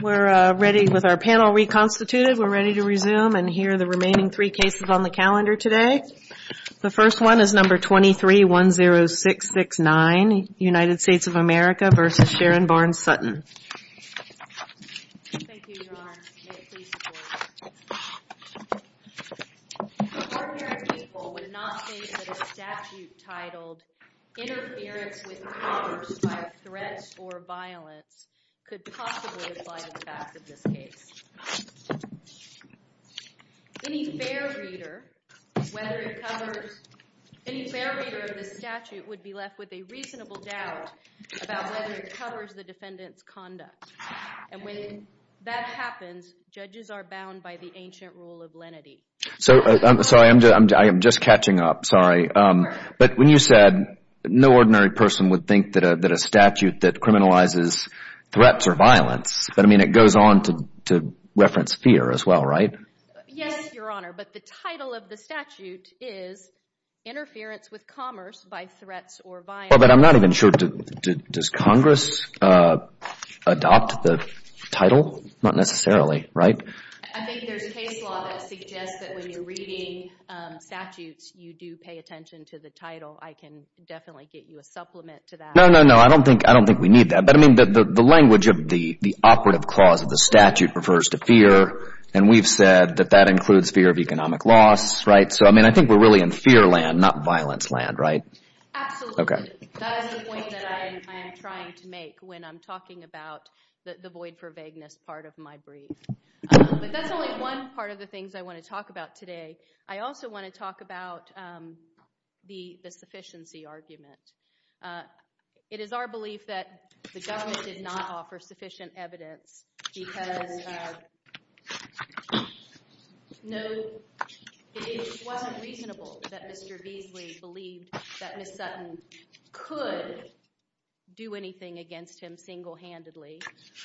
We're ready with our panel reconstituted. We're ready to resume and hear the remaining three cases on the calendar today. The first one is number 23-10669, United States of America v. Sharon Barnes Sutton. Thank you, Your Honor. May it please the Court. The court here in principle would not say that a statute titled Interference with Commerce by Threats or Violence could possibly apply to the facts of this case. Any fair reader of this statute would be left with a reasonable doubt about whether it covers the defendant's conduct. And when that happens, judges are bound by the ancient rule of lenity. So, I'm sorry, I'm just catching up, sorry. But when you said no ordinary person would think that a statute that criminalizes threats or violence, but I mean it goes on to reference fear as well, right? Yes, Your Honor, but the title of the statute is Interference with Commerce by Threats or Violence. Well, but I'm not even sure, does Congress adopt the title? Not necessarily, right? I think there's case law that suggests that when you're reading statutes, you do pay attention to the title. I can definitely get you a supplement to that. No, no, no, I don't think we need that. But I mean, the language of the operative clause of the statute refers to fear, and we've said that that includes fear of economic loss, right? So, I mean, I think we're really in fear land, not violence land, right? Absolutely. That is the point that I am trying to make when I'm talking about the void for vagueness part of my brief. But that's only one part of the things I want to talk about today. I also want to talk about the sufficiency argument. It is our belief that the government did not offer sufficient evidence because, no, it wasn't reasonable that Mr. Beasley believed that Ms. Sutton could do anything against him single-handedly,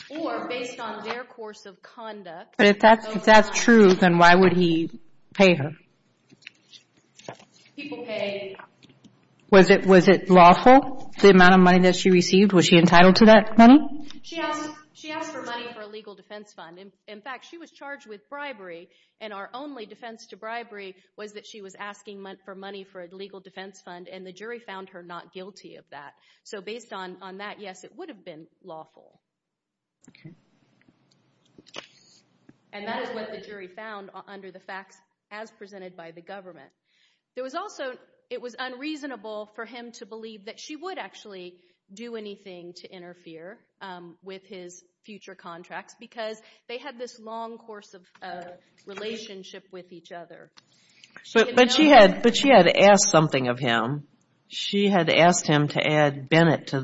or based on their course of conduct. But if that's true, then why would he pay her? People pay. Was it lawful, the amount of money that she received? Was she entitled to that money? She asked for money for a legal defense fund. In fact, she was charged with bribery, and our only defense to bribery was that she was asking for money for a legal defense fund, and the jury found her not guilty of that. So based on that, yes, it would have been lawful. And that is what the jury found under the facts as presented by the government. It was unreasonable for him to believe that she would actually do anything to interfere with his future contracts because they had this long course of relationship with each other. But she had asked something of him. She had asked him to add Bennett to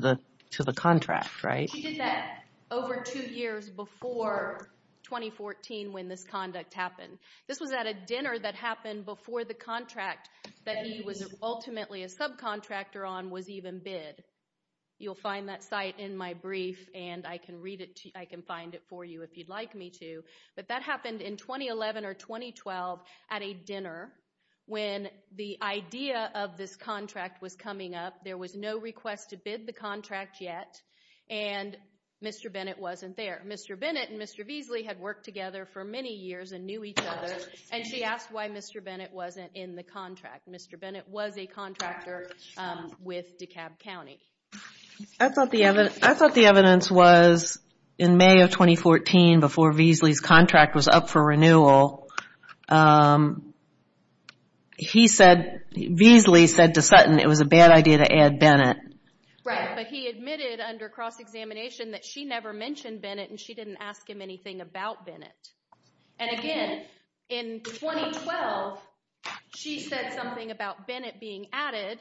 the contract, right? He did that over two years before 2014 when this conduct happened. This was at a dinner that happened before the contract that he was ultimately a subcontractor on was even bid. You'll find that site in my brief, and I can find it for you if you'd like me to. But that happened in 2011 or 2012 at a dinner when the idea of this contract was coming up. There was no request to bid the contract yet, and Mr. Bennett wasn't there. Mr. Bennett and Mr. Beasley had worked together for many years and knew each other, and she asked why Mr. Bennett wasn't in the contract. Mr. Bennett was a contractor with DeKalb County. I thought the evidence was in May of 2014 before Beasley's contract was up for renewal. Beasley said to Sutton it was a bad idea to add Bennett. Right, but he admitted under cross-examination that she never mentioned Bennett and she didn't ask him anything about Bennett. And again, in 2012, she said something about Bennett being added.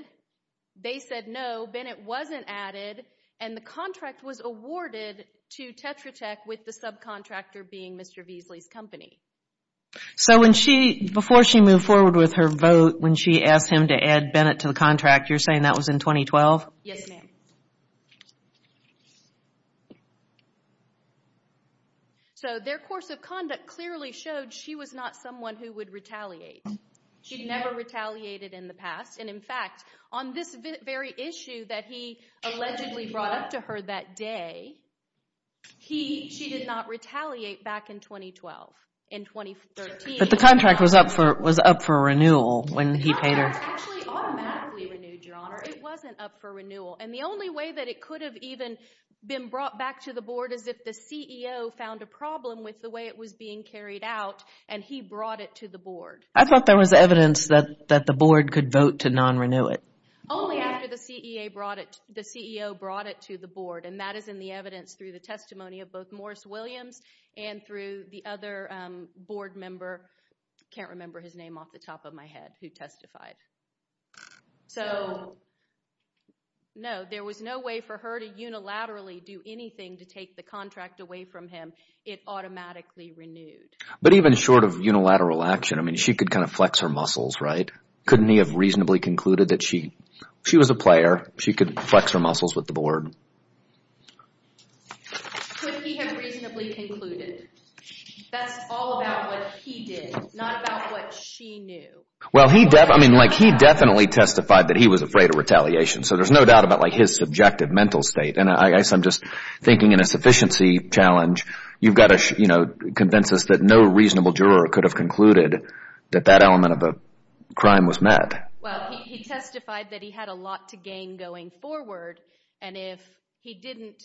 They said no, Bennett wasn't added, and the contract was awarded to Tetra Tech with the subcontractor being Mr. Beasley's company. So before she moved forward with her vote when she asked him to add Bennett to the contract, you're saying that was in 2012? Yes, ma'am. So their course of conduct clearly showed she was not someone who would retaliate. She'd never retaliated in the past. And in fact, on this very issue that he allegedly brought up to her that day, she did not retaliate back in 2012, in 2013. But the contract was up for renewal when he paid her. No, it was actually automatically renewed, Your Honor. It wasn't up for renewal. And the only way that it could have even been brought back to the Board is if the CEO found a problem with the way it was being carried out, and he brought it to the Board. I thought there was evidence that the Board could vote to non-renew it. Only after the CEO brought it to the Board, and that is in the evidence through the testimony of both Morris Williams and through the other Board member, I can't remember his name off the top of my head, who testified. So, no, there was no way for her to unilaterally do anything to take the contract away from him. It automatically renewed. But even short of unilateral action, I mean, she could kind of flex her muscles, right? Couldn't he have reasonably concluded that she was a player? She could flex her muscles with the Board. Could he have reasonably concluded? That's all about what he did, not about what she knew. Well, he definitely testified that he was afraid of retaliation, so there's no doubt about his subjective mental state. And I guess I'm just thinking in a sufficiency challenge, you've got to convince us that no reasonable juror could have concluded that that element of a crime was met. Well, he testified that he had a lot to gain going forward, and if he didn't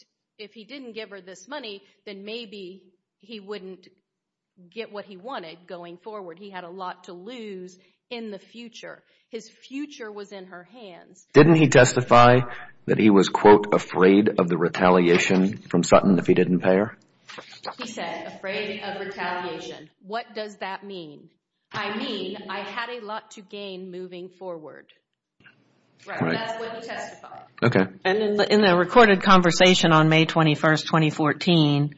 give her this money, then maybe he wouldn't get what he wanted going forward. He had a lot to lose in the future. His future was in her hands. Didn't he testify that he was, quote, afraid of the retaliation from Sutton if he didn't pay her? He said, afraid of retaliation. What does that mean? I mean, I had a lot to gain moving forward. Right, and that's what he testified. Okay. And in the recorded conversation on May 21, 2014,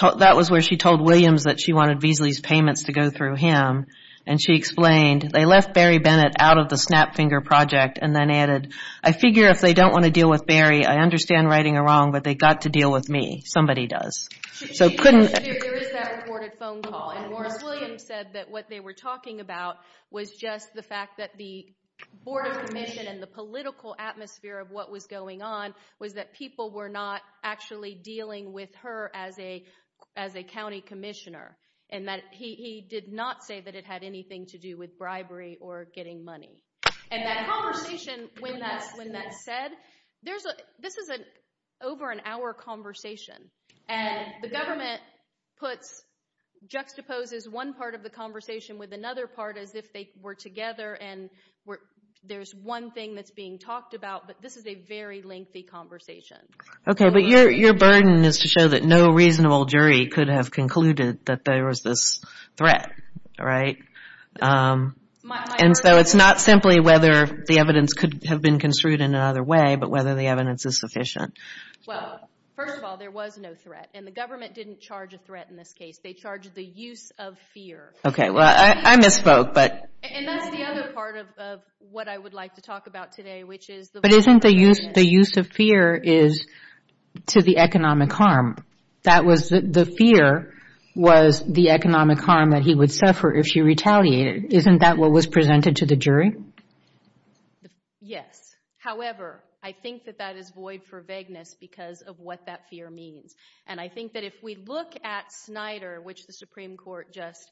that was where she told Williams that she wanted Beasley's payments to go through him, and she explained, they left Barry Bennett out of the Snapfinger project, and then added, I figure if they don't want to deal with Barry, I understand righting a wrong, but they've got to deal with me. Somebody does. There is that recorded phone call, and Morris Williams said that what they were talking about was just the fact that the Board of Commission and the political atmosphere of what was going on was that people were not actually dealing with her as a county commissioner, and that he did not say that it had anything to do with bribery or getting money. And that conversation, when that's said, this is an over-an-hour conversation, and the government juxtaposes one part of the conversation with another part as if they were together and there's one thing that's being talked about, but this is a very lengthy conversation. Okay, but your burden is to show that no reasonable jury could have concluded that there was this threat, right? And so it's not simply whether the evidence could have been construed in another way, but whether the evidence is sufficient. Well, first of all, there was no threat, and the government didn't charge a threat in this case. They charged the use of fear. Okay, well, I misspoke, but... And that's the other part of what I would like to talk about today, which is... But isn't the use of fear is to the economic harm? That was the fear was the economic harm that he would suffer if she retaliated. Isn't that what was presented to the jury? Yes. However, I think that that is void for vagueness because of what that fear means. And I think that if we look at Snyder, which the Supreme Court just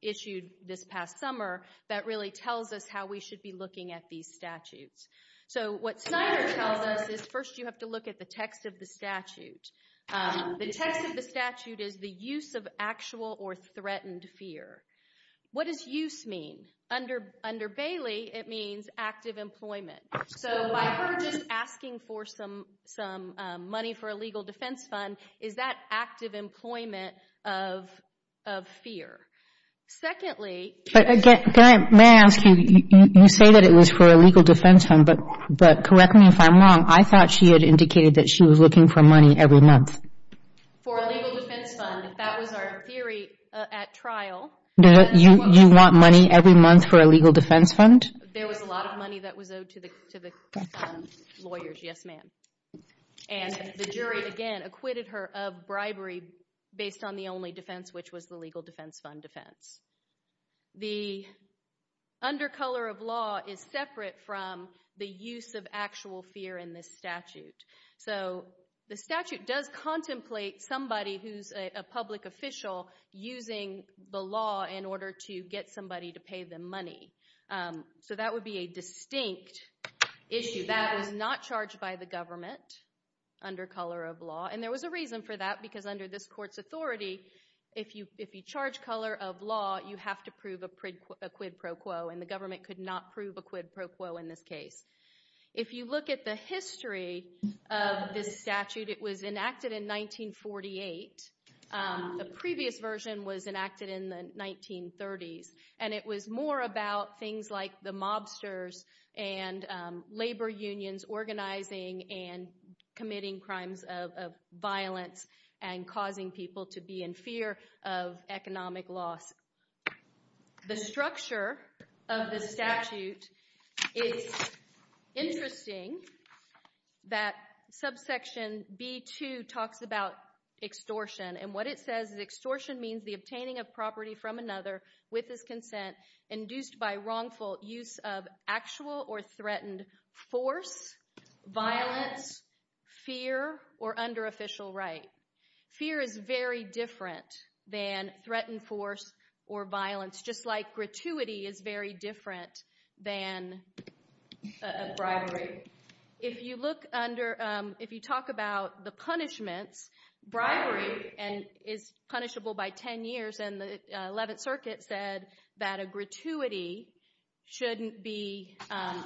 issued this past summer, that really tells us how we should be looking at these statutes. So what Snyder tells us is, first, you have to look at the text of the statute. The text of the statute is the use of actual or threatened fear. What does use mean? Under Bailey, it means active employment. So by her just asking for some money for a legal defense fund, is that active employment of fear? Secondly... May I ask you, you say that it was for a legal defense fund, but correct me if I'm wrong, I thought she had indicated that she was looking for money every month. For a legal defense fund, that was our theory at trial. You want money every month for a legal defense fund? There was a lot of money that was owed to the lawyers, yes, ma'am. And the jury, again, acquitted her of bribery based on the only defense, which was the legal defense fund defense. The undercolor of law is separate from the use of actual fear in this statute. So the statute does contemplate somebody who's a public official using the law in order to get somebody to pay them money. So that would be a distinct issue. That was not charged by the government under color of law, and there was a reason for that, because under this court's authority, if you charge color of law, you have to prove a quid pro quo, and the government could not prove a quid pro quo in this case. If you look at the history of this statute, it was enacted in 1948. The previous version was enacted in the 1930s, and it was more about things like the mobsters and labor unions organizing and committing crimes of violence and causing people to be in fear of economic loss. The structure of the statute, it's interesting that subsection B2 talks about extortion, and what it says is extortion means the obtaining of property from another with his consent induced by wrongful use of actual or threatened force, violence, fear, or under official right. Fear is very different than threatened force or violence, just like gratuity is very different than bribery. If you talk about the punishments, bribery is punishable by 10 years, and the 11th Circuit said that a gratuity shouldn't be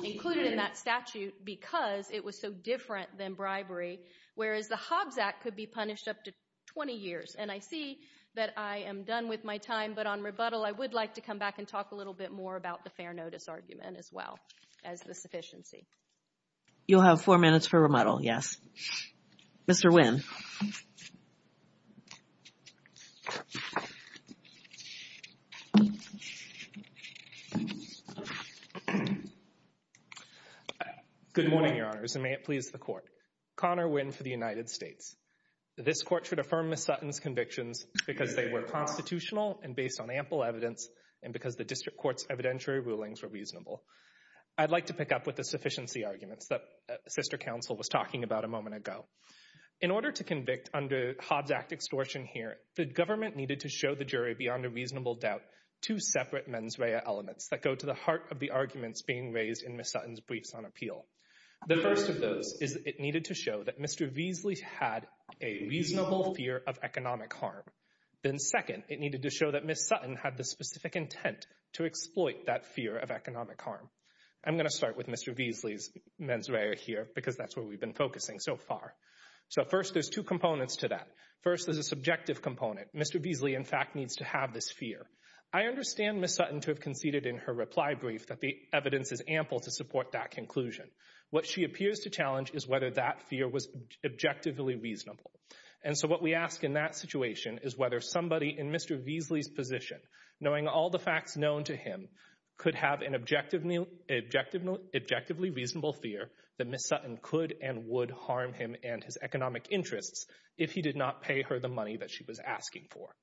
included in that statute because it was so different than bribery, whereas the Hobbs Act could be punished up to 20 years. And I see that I am done with my time, but on rebuttal I would like to come back and talk a little bit more about the fair notice argument as well as the sufficiency. You'll have four minutes for rebuttal, yes. Mr. Wynn. Good morning, Your Honors, and may it please the Court. Connor Wynn for the United States. This Court should affirm Ms. Sutton's convictions because they were constitutional and based on ample evidence and because the District Court's evidentiary rulings were reasonable. I'd like to pick up with the sufficiency arguments that Sister Counsel was talking about a moment ago. In order to convict under Hobbs Act extortion here, the government needed to show the jury beyond a reasonable doubt two separate mens rea elements that go to the heart of the arguments being raised in Ms. Sutton's briefs on appeal. The first of those is it needed to show that Mr. Weasley had a reasonable fear of economic harm. Then second, it needed to show that Ms. Sutton had the specific intent to exploit that fear of economic harm. I'm going to start with Mr. Weasley's mens rea here because that's where we've been focusing so far. So first, there's two components to that. First, there's a subjective component. Mr. Weasley, in fact, needs to have this fear. I understand Ms. Sutton to have conceded in her reply brief that the evidence is ample to support that conclusion. What she appears to challenge is whether that fear was objectively reasonable. And so what we ask in that situation is whether somebody in Mr. Weasley's position, knowing all the facts known to him, could have an objectively reasonable fear that Ms. Sutton could and would harm him and his economic interests if he did not pay her the money that she was asking for.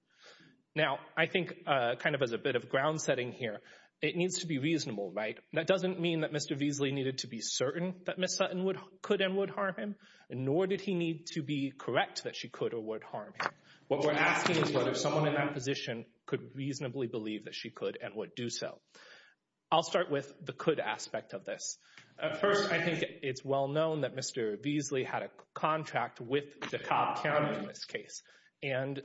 Now, I think kind of as a bit of ground setting here, it needs to be reasonable, right? That doesn't mean that Mr. Weasley needed to be certain that Ms. Sutton could and would harm him, nor did he need to be correct that she could or would harm him. What we're asking is whether someone in that position could reasonably believe that she could and would do so. I'll start with the could aspect of this. First, I think it's well known that Mr. Weasley had a contract with the Cobb County in this case, and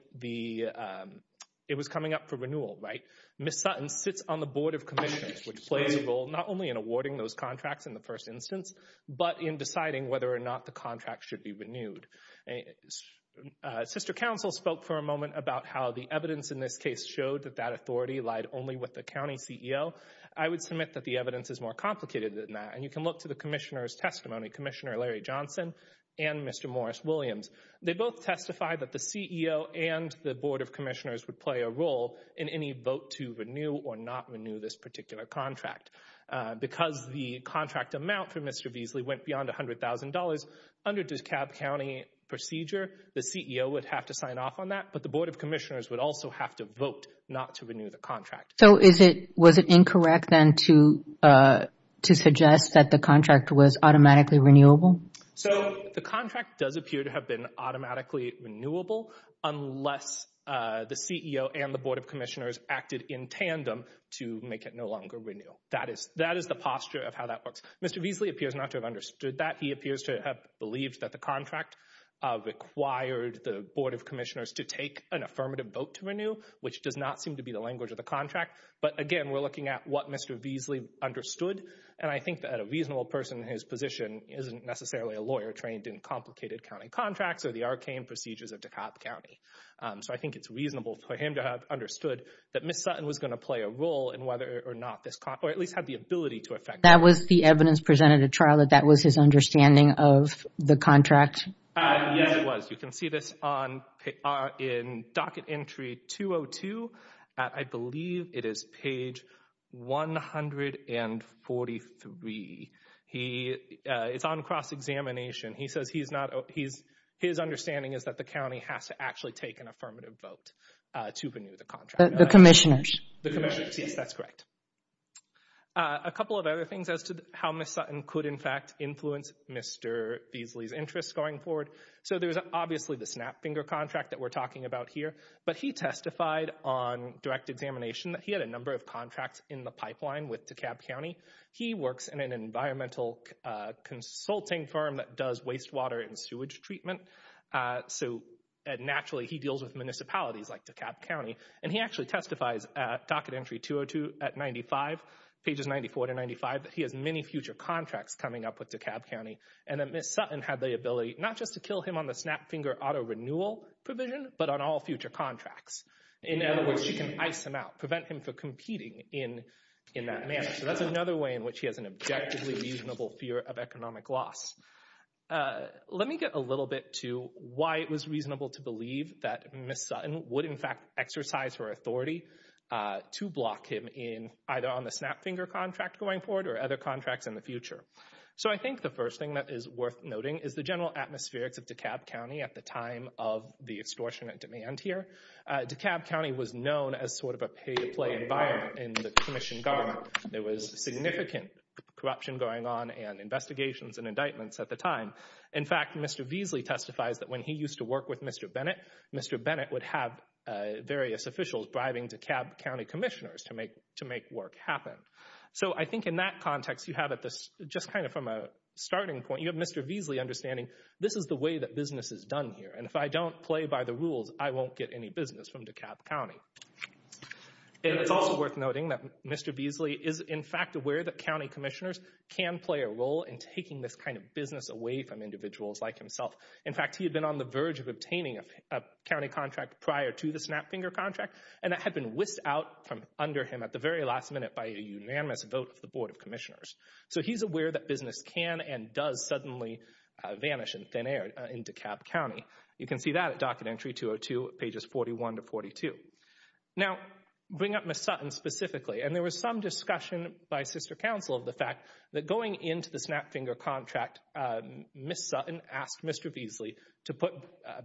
it was coming up for renewal, right? Ms. Sutton sits on the Board of Commissioners, which plays a role not only in awarding those contracts in the first instance, but in deciding whether or not the contract should be renewed. Sister Counsel spoke for a moment about how the evidence in this case showed that that authority lied only with the county CEO. I would submit that the evidence is more complicated than that, and you can look to the Commissioner's testimony, Commissioner Larry Johnson and Mr. Morris Williams. They both testified that the CEO and the Board of Commissioners would play a role in any vote to renew or not renew this particular contract. Because the contract amount for Mr. Weasley went beyond $100,000, under the Cobb County procedure, the CEO would have to sign off on that, but the Board of Commissioners would also have to vote not to renew the contract. So was it incorrect then to suggest that the contract was automatically renewable? So the contract does appear to have been automatically renewable unless the CEO and the Board of Commissioners acted in tandem to make it no longer renewal. That is the posture of how that works. Mr. Weasley appears not to have understood that. He appears to have believed that the contract required the Board of Commissioners to take an affirmative vote to renew, which does not seem to be the language of the contract. But, again, we're looking at what Mr. Weasley understood, and I think that a reasonable person in his position isn't necessarily a lawyer trained in complicated county contracts or the arcane procedures of DeKalb County. So I think it's reasonable for him to have understood that Ms. Sutton was going to play a role in whether or not this contract or at least had the ability to affect it. That was the evidence presented at trial, that that was his understanding of the contract? Yes, it was. You can see this in docket entry 202. I believe it is page 143. It's on cross-examination. His understanding is that the county has to actually take an affirmative vote to renew the contract. The commissioners? The commissioners, yes, that's correct. A couple of other things as to how Ms. Sutton could, in fact, influence Mr. Weasley's interests going forward. So there's obviously the snap finger contract that we're talking about here, but he testified on direct examination that he had a number of contracts in the pipeline with DeKalb County. He works in an environmental consulting firm that does wastewater and sewage treatment. So naturally he deals with municipalities like DeKalb County, and he actually testifies at docket entry 202 at 95, pages 94 to 95, that he has many future contracts coming up with DeKalb County, and that Ms. Sutton had the ability not just to kill him on the snap finger auto renewal provision, but on all future contracts. In other words, she can ice him out, prevent him from competing in that manner. So that's another way in which he has an objectively reasonable fear of economic loss. Let me get a little bit to why it was reasonable to believe that Ms. Sutton would, in fact, exercise her authority to block him in either on the snap finger contract going forward or other contracts in the future. So I think the first thing that is worth noting is the general atmospherics of DeKalb County at the time of the extortionate demand here. DeKalb County was known as sort of a pay-to-play environment in the commission government. There was significant corruption going on and investigations and indictments at the time. In fact, Mr. Veasley testifies that when he used to work with Mr. Bennett, Mr. Bennett would have various officials bribing DeKalb County commissioners to make work happen. So I think in that context you have, just kind of from a starting point, you have Mr. Veasley understanding this is the way that business is done here, and if I don't play by the rules, I won't get any business from DeKalb County. It's also worth noting that Mr. Veasley is, in fact, aware that county commissioners can play a role in taking this kind of business away from individuals like himself. In fact, he had been on the verge of obtaining a county contract prior to the Snapfinger contract, and that had been whisked out from under him at the very last minute by a unanimous vote of the Board of Commissioners. So he's aware that business can and does suddenly vanish in thin air in DeKalb County. You can see that at Docket Entry 202, pages 41 to 42. Now, bring up Ms. Sutton specifically. And there was some discussion by sister counsel of the fact that going into the Snapfinger contract, Ms. Sutton asked Mr. Veasley to put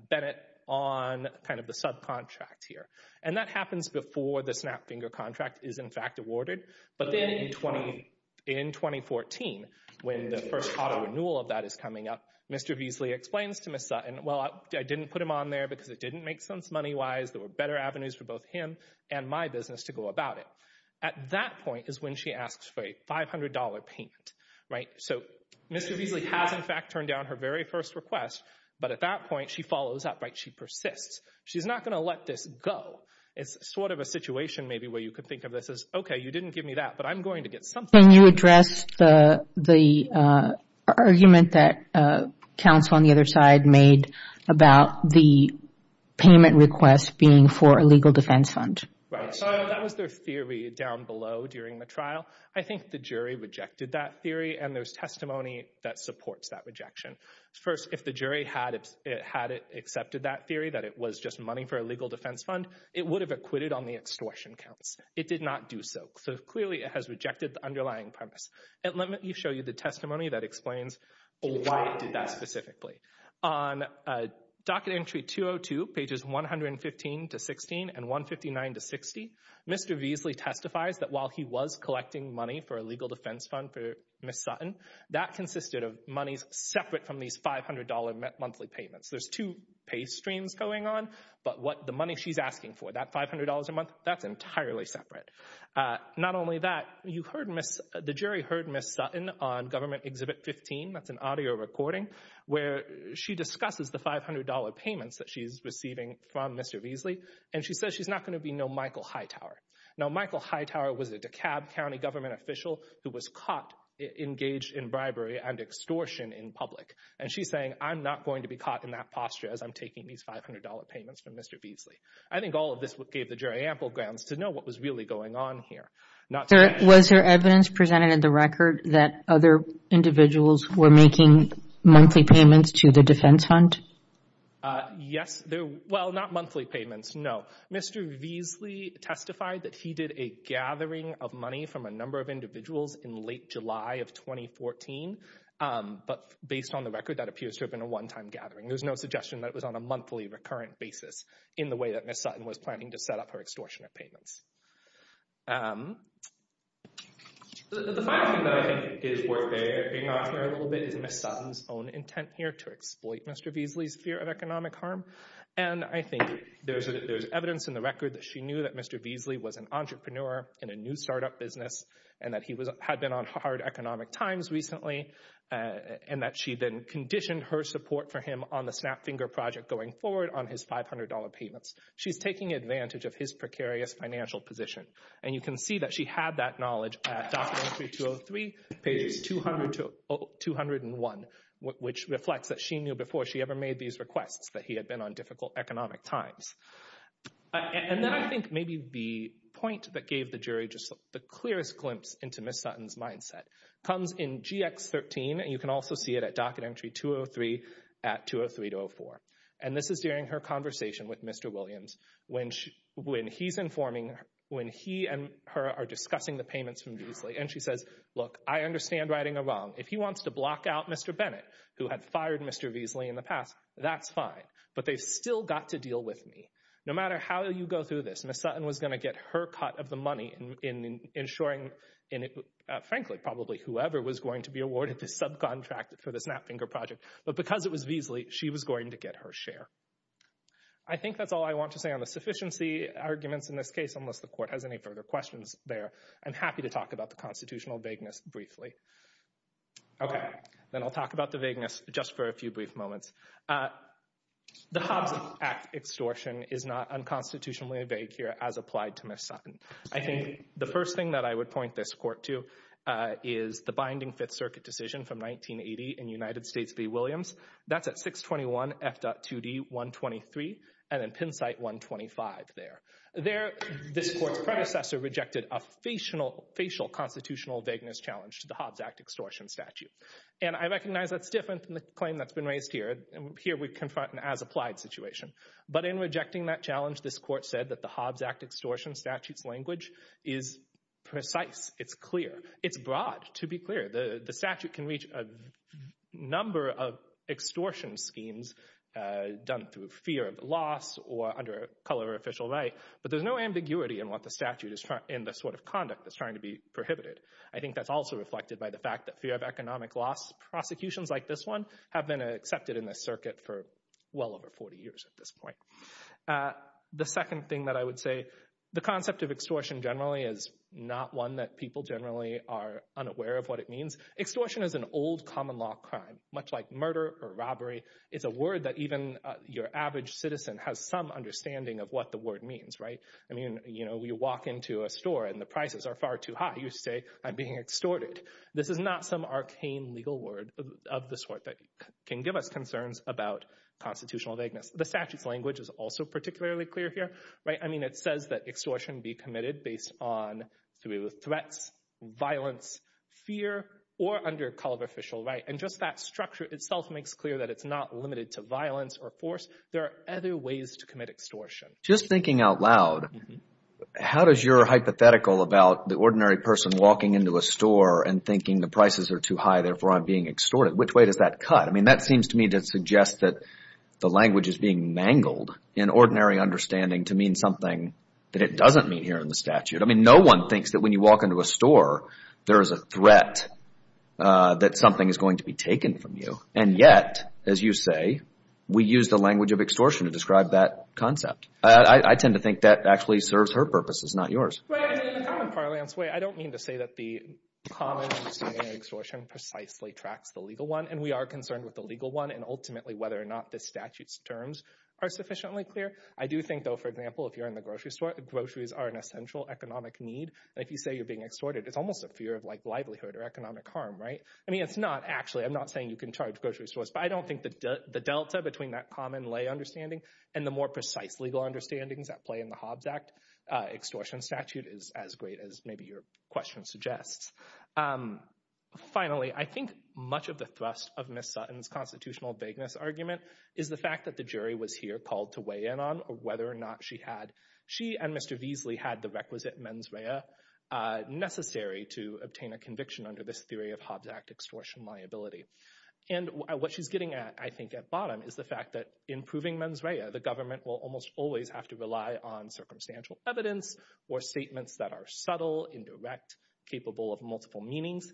Bennett on kind of the subcontract here. And that happens before the Snapfinger contract is, in fact, awarded. But then in 2014, when the first auto renewal of that is coming up, Mr. Veasley explains to Ms. Sutton, well, I didn't put him on there because it didn't make sense money-wise. There were better avenues for both him and my business to go about it. At that point is when she asks for a $500 payment, right? So Mr. Veasley has, in fact, turned down her very first request, but at that point she follows up, right? She insists. She's not going to let this go. It's sort of a situation maybe where you could think of this as, okay, you didn't give me that, but I'm going to get something. Can you address the argument that counsel on the other side made about the payment request being for a legal defense fund? Right. So that was their theory down below during the trial. I think the jury rejected that theory, and there's testimony that supports that rejection. First, if the jury had it, had it accepted that theory that it was just money for a legal defense fund, it would have acquitted on the extortion counts. It did not do so. So clearly it has rejected the underlying premise. And let me show you the testimony that explains why it did that specifically. On docket entry 202, pages 115 to 16 and 159 to 60, Mr. Veasley testifies that while he was collecting money for a legal defense fund, he was receiving $500 a month from these $500 monthly payments. There's two pay streams going on, but what the money she's asking for, that $500 a month, that's entirely separate. Not only that, you heard miss, the jury heard miss Sutton on government exhibit 15. That's an audio recording where she discusses the $500 payments that she's receiving from Mr. Veasley. And she says, she's not going to be no Michael Hightower. Now, Michael Hightower was a DeKalb County government official who was caught engaged in bribery and extortion in public. And she's saying, I'm not going to be caught in that posture as I'm taking these $500 payments from Mr. I think all of this gave the jury ample grounds to know what was really going on here. Not. Was there evidence presented in the record that other individuals were making monthly payments to the defense fund? Yes. Well, not monthly payments. No. Mr. Veasley testified that he did a gathering of money from a number of That was in July of 2014. But based on the record, that appears to have been a one-time gathering. There was no suggestion that it was on a monthly recurrent basis in the way that Miss Sutton was planning to set up her extortion of payments. The final thing that I think is worth bearing on for a little bit is Miss Sutton's own intent here to exploit Mr. Veasley's fear of economic harm. And I think there's, there's evidence in the record that she knew that Mr. Veasley was an entrepreneur in a new startup business and that he was, that he had been on hard economic times recently and that she then conditioned her support for him on the snap finger project going forward on his $500 payments. She's taking advantage of his precarious financial position. And you can see that she had that knowledge. Three pages, 200 to 201, which reflects that she knew before she ever made these requests that he had been on difficult economic times. And then I think maybe the point that gave the jury just the clearest glimpse into Miss Sutton's mindset comes in GX 13. And you can also see it at docket entry 203 at 203 to 04. And this is during her conversation with Mr. Williams, when she, when he's informing her, when he and her are discussing the payments from Veasley. And she says, look, I understand writing a wrong. If he wants to block out Mr. Bennett who had fired Mr. Veasley in the past, that's fine, but they've still got to deal with me. No matter how you go through this, Miss Sutton was going to get her cut of the money in ensuring. And frankly, probably whoever was going to be awarded this subcontract for the snap finger project, but because it was Veasley, she was going to get her share. I think that's all I want to say on the sufficiency arguments in this case, unless the court has any further questions there. I'm happy to talk about the constitutional vagueness briefly. Okay. Then I'll talk about the vagueness just for a few brief moments. The Hobbs Act extortion is not unconstitutionally vague here as applied to Miss Sutton. I think the first thing that I would point this court to is the binding fifth circuit decision from 1980 in United States v. That's at 621 F dot 2d 123. And then Penn site 125 there, there, this court's predecessor rejected a facial, facial constitutional vagueness challenge to the Hobbs Act extortion statute. And I recognize that's different than the claim that's been raised here. And here we confront an as applied situation, but in rejecting that challenge, this court said that the Hobbs Act extortion statutes language is precise. It's clear. It's broad to be clear. The statute can reach a number of extortion schemes done through fear of loss or under color official right. But there's no ambiguity in what the statute is in the sort of conduct that's trying to be prohibited. I think that's also reflected by the fact that fear of economic loss prosecutions like this one have been accepted in this circuit for well over 40 years at this point. The second thing that I would say, the concept of extortion generally is not one that people generally are unaware of what it means. Extortion is an old common law crime, much like murder or robbery. It's a word that even your average citizen has some understanding of what the word means, right? I mean, you know, we walk into a store and the prices are far too high. You say I'm being extorted. This is not some arcane legal word of the sort that can give us concerns about constitutional vagueness. The statute's language is also particularly clear here, right? I mean, it says that extortion be committed based on threats, violence, fear, or under color official right. And just that structure itself makes clear that it's not limited to violence or force. There are other ways to commit extortion. Just thinking out loud, how does your hypothetical about the ordinary person walking into a store and thinking the prices are too high, therefore I'm being extorted, which way does that cut? I mean, that seems to me to suggest that the language is being mangled in ordinary understanding to mean something that it doesn't mean here in the statute. I mean, no one thinks that when you walk into a store, there is a threat that something is going to be taken from you. And yet, as you say, we use the language of extortion to describe that concept. I tend to think that actually serves her purposes, not yours. I don't mean to say that the common extortion precisely tracks the legal one. And we are concerned with the legal one and ultimately whether or not the statutes terms are sufficiently clear. I do think, for example, if you're in the grocery store, the groceries are an essential economic need. And if you say you're being extorted, it's almost a fear of like livelihood or economic harm, right? I mean, it's not actually, I'm not saying you can charge grocery stores, but I don't think that the Delta between that common lay understanding and the more precise legal understandings that play in the Hobbs act extortion statute is as great as maybe your question suggests. Finally, I think much of the thrust of Ms. Sutton's constitutional vagueness argument is the fact that the jury was here called to weigh in on whether or not she had, she and Mr. Beasley had the requisite mens rea necessary to obtain a conviction under this theory of Hobbs act extortion liability. And what she's getting at, I think at bottom is the fact that improving mens rea, the government will almost always have to rely on circumstantial evidence or statements that are subtle, indirect, capable of multiple meanings.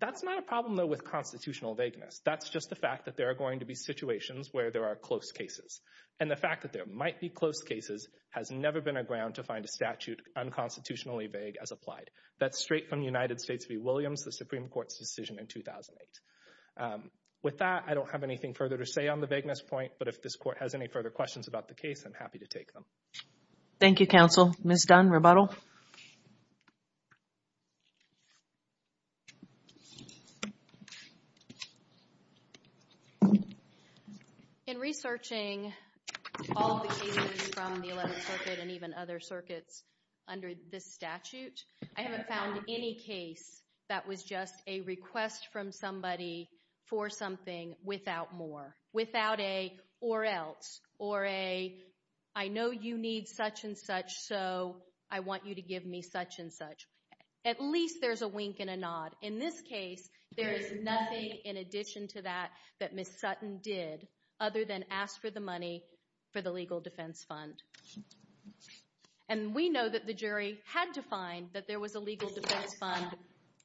That's not a problem though, with constitutional vagueness. That's just the fact that there are going to be situations where there are close cases. And the fact that there might be close cases has never been a ground to find a statute unconstitutionally vague as applied. That's straight from United States v. the Supreme court's decision in 2008. With that, I don't have anything further to say on the vagueness point, but if this court has any further questions about the case, I'm happy to take them. Thank you. Counsel Ms. Dunn rebuttal. In researching all the cases from the 11th circuit and even other circuits under this statute, I haven't found any case that was just a request from somebody for something without more, without a, or else, or a, I know you need such and such. So I want you to give me such and such. At least there's a wink and a nod. In this case, there is nothing in addition to that, that Ms. Sutton did other than ask for the money for the legal defense fund. And we know that the jury had to find that there was a legal defense fund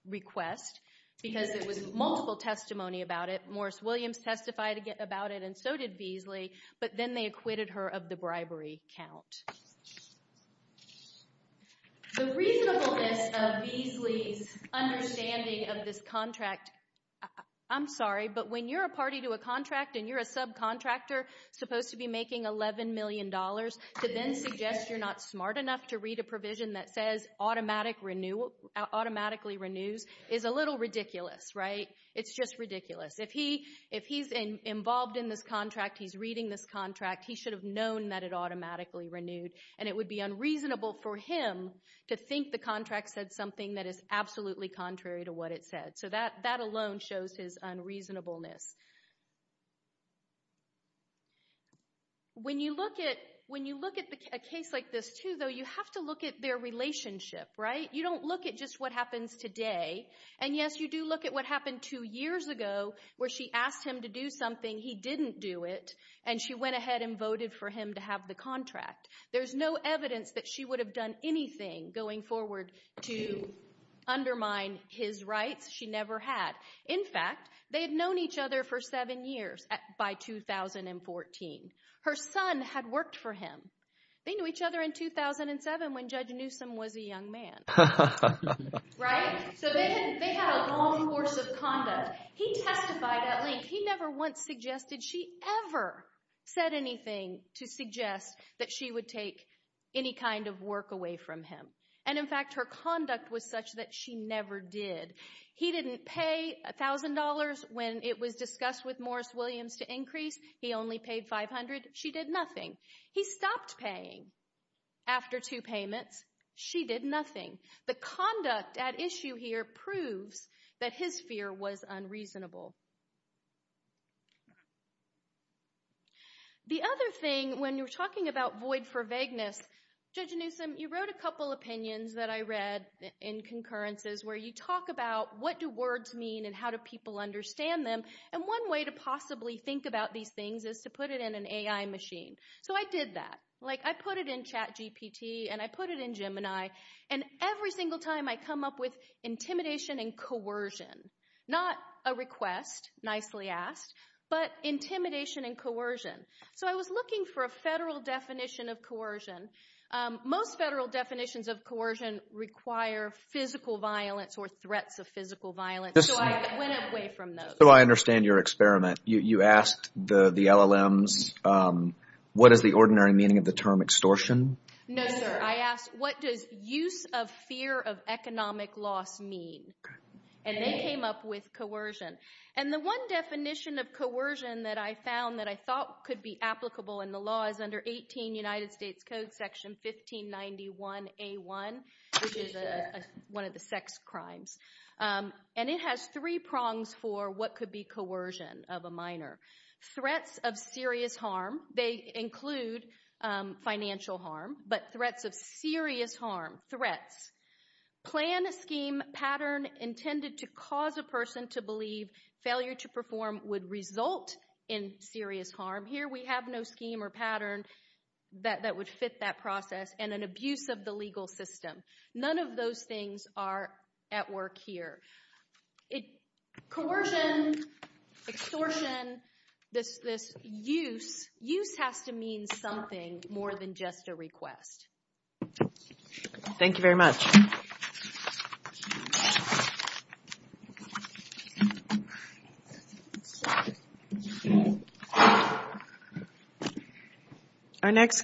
request because it was multiple testimony about it. And of course, Williams testified about it and so did Beasley, but then they acquitted her of the bribery count. The reasonableness of Beasley's understanding of this contract, I'm sorry, but when you're a party to a contract and you're a subcontractor supposed to be making $11 million to then suggest you're not smart enough to read a provision that says automatically renews is a little ridiculous, right? It's just ridiculous. If he, if he's involved in this contract, he's reading this contract, he should have known that it automatically renewed and it would be unreasonable for him to think the contract said something that is absolutely contrary to what it said. So that, that alone shows his unreasonableness. When you look at, when you look at a case like this too, though, you have to look at their relationship, right? You don't look at just what happens today. And yes, you do look at what happened two years ago where she asked him to do something. He didn't do it. And she went ahead and voted for him to have the contract. There's no evidence that she would have done anything going forward to undermine his rights. She never had. In fact, they had known each other for seven years by 2014. Her son had worked for him. They knew each other in 2007 when judge Newsom was a young man. Right? So they had, they had a long course of conduct. He testified at length. He never once suggested she ever said anything to suggest that she would take any kind of work away from him. And in fact, her conduct was such that she never did. He didn't pay a thousand dollars when it was discussed with Morris Williams to increase. He only paid 500. She did nothing. He stopped paying after two payments. She did nothing. The conduct at issue here proves that his fear was unreasonable. The other thing, when you're talking about void for vagueness, judge Newsom, you wrote a couple opinions that I read in concurrences where you talk about what do words mean and how do people understand them. And one way to possibly think about these things is to put it in an AI machine. So I did that. Like I put it in chat GPT and I put it in Gemini. And every single time I come up with intimidation and coercion, not a request, nicely asked, but intimidation and coercion. So I was looking for a federal definition of coercion. Most federal definitions of coercion require physical violence or threats of physical violence. So I went away from those. So I understand your experiment. You asked the LLMs, what is the ordinary meaning of the term extortion? No, sir. I asked, what does use of fear of economic loss mean? And they came up with coercion. And the one definition of coercion that I found that I thought could be applicable in the law is under 18 United States code section, 1591 a one, which is one of the sex crimes. And it has three prongs for what could be coercion of a minor threats of serious harm. They include financial harm, but threats of serious harm threats, plan a scheme pattern intended to cause a person to believe failure to perform would result in serious harm here. We have no scheme or pattern that, that would fit that process and an abuse of the legal system. None of those things are at work here. It coercion extortion. This, this use use has to mean something more than just a request. Thank you very much. Our next.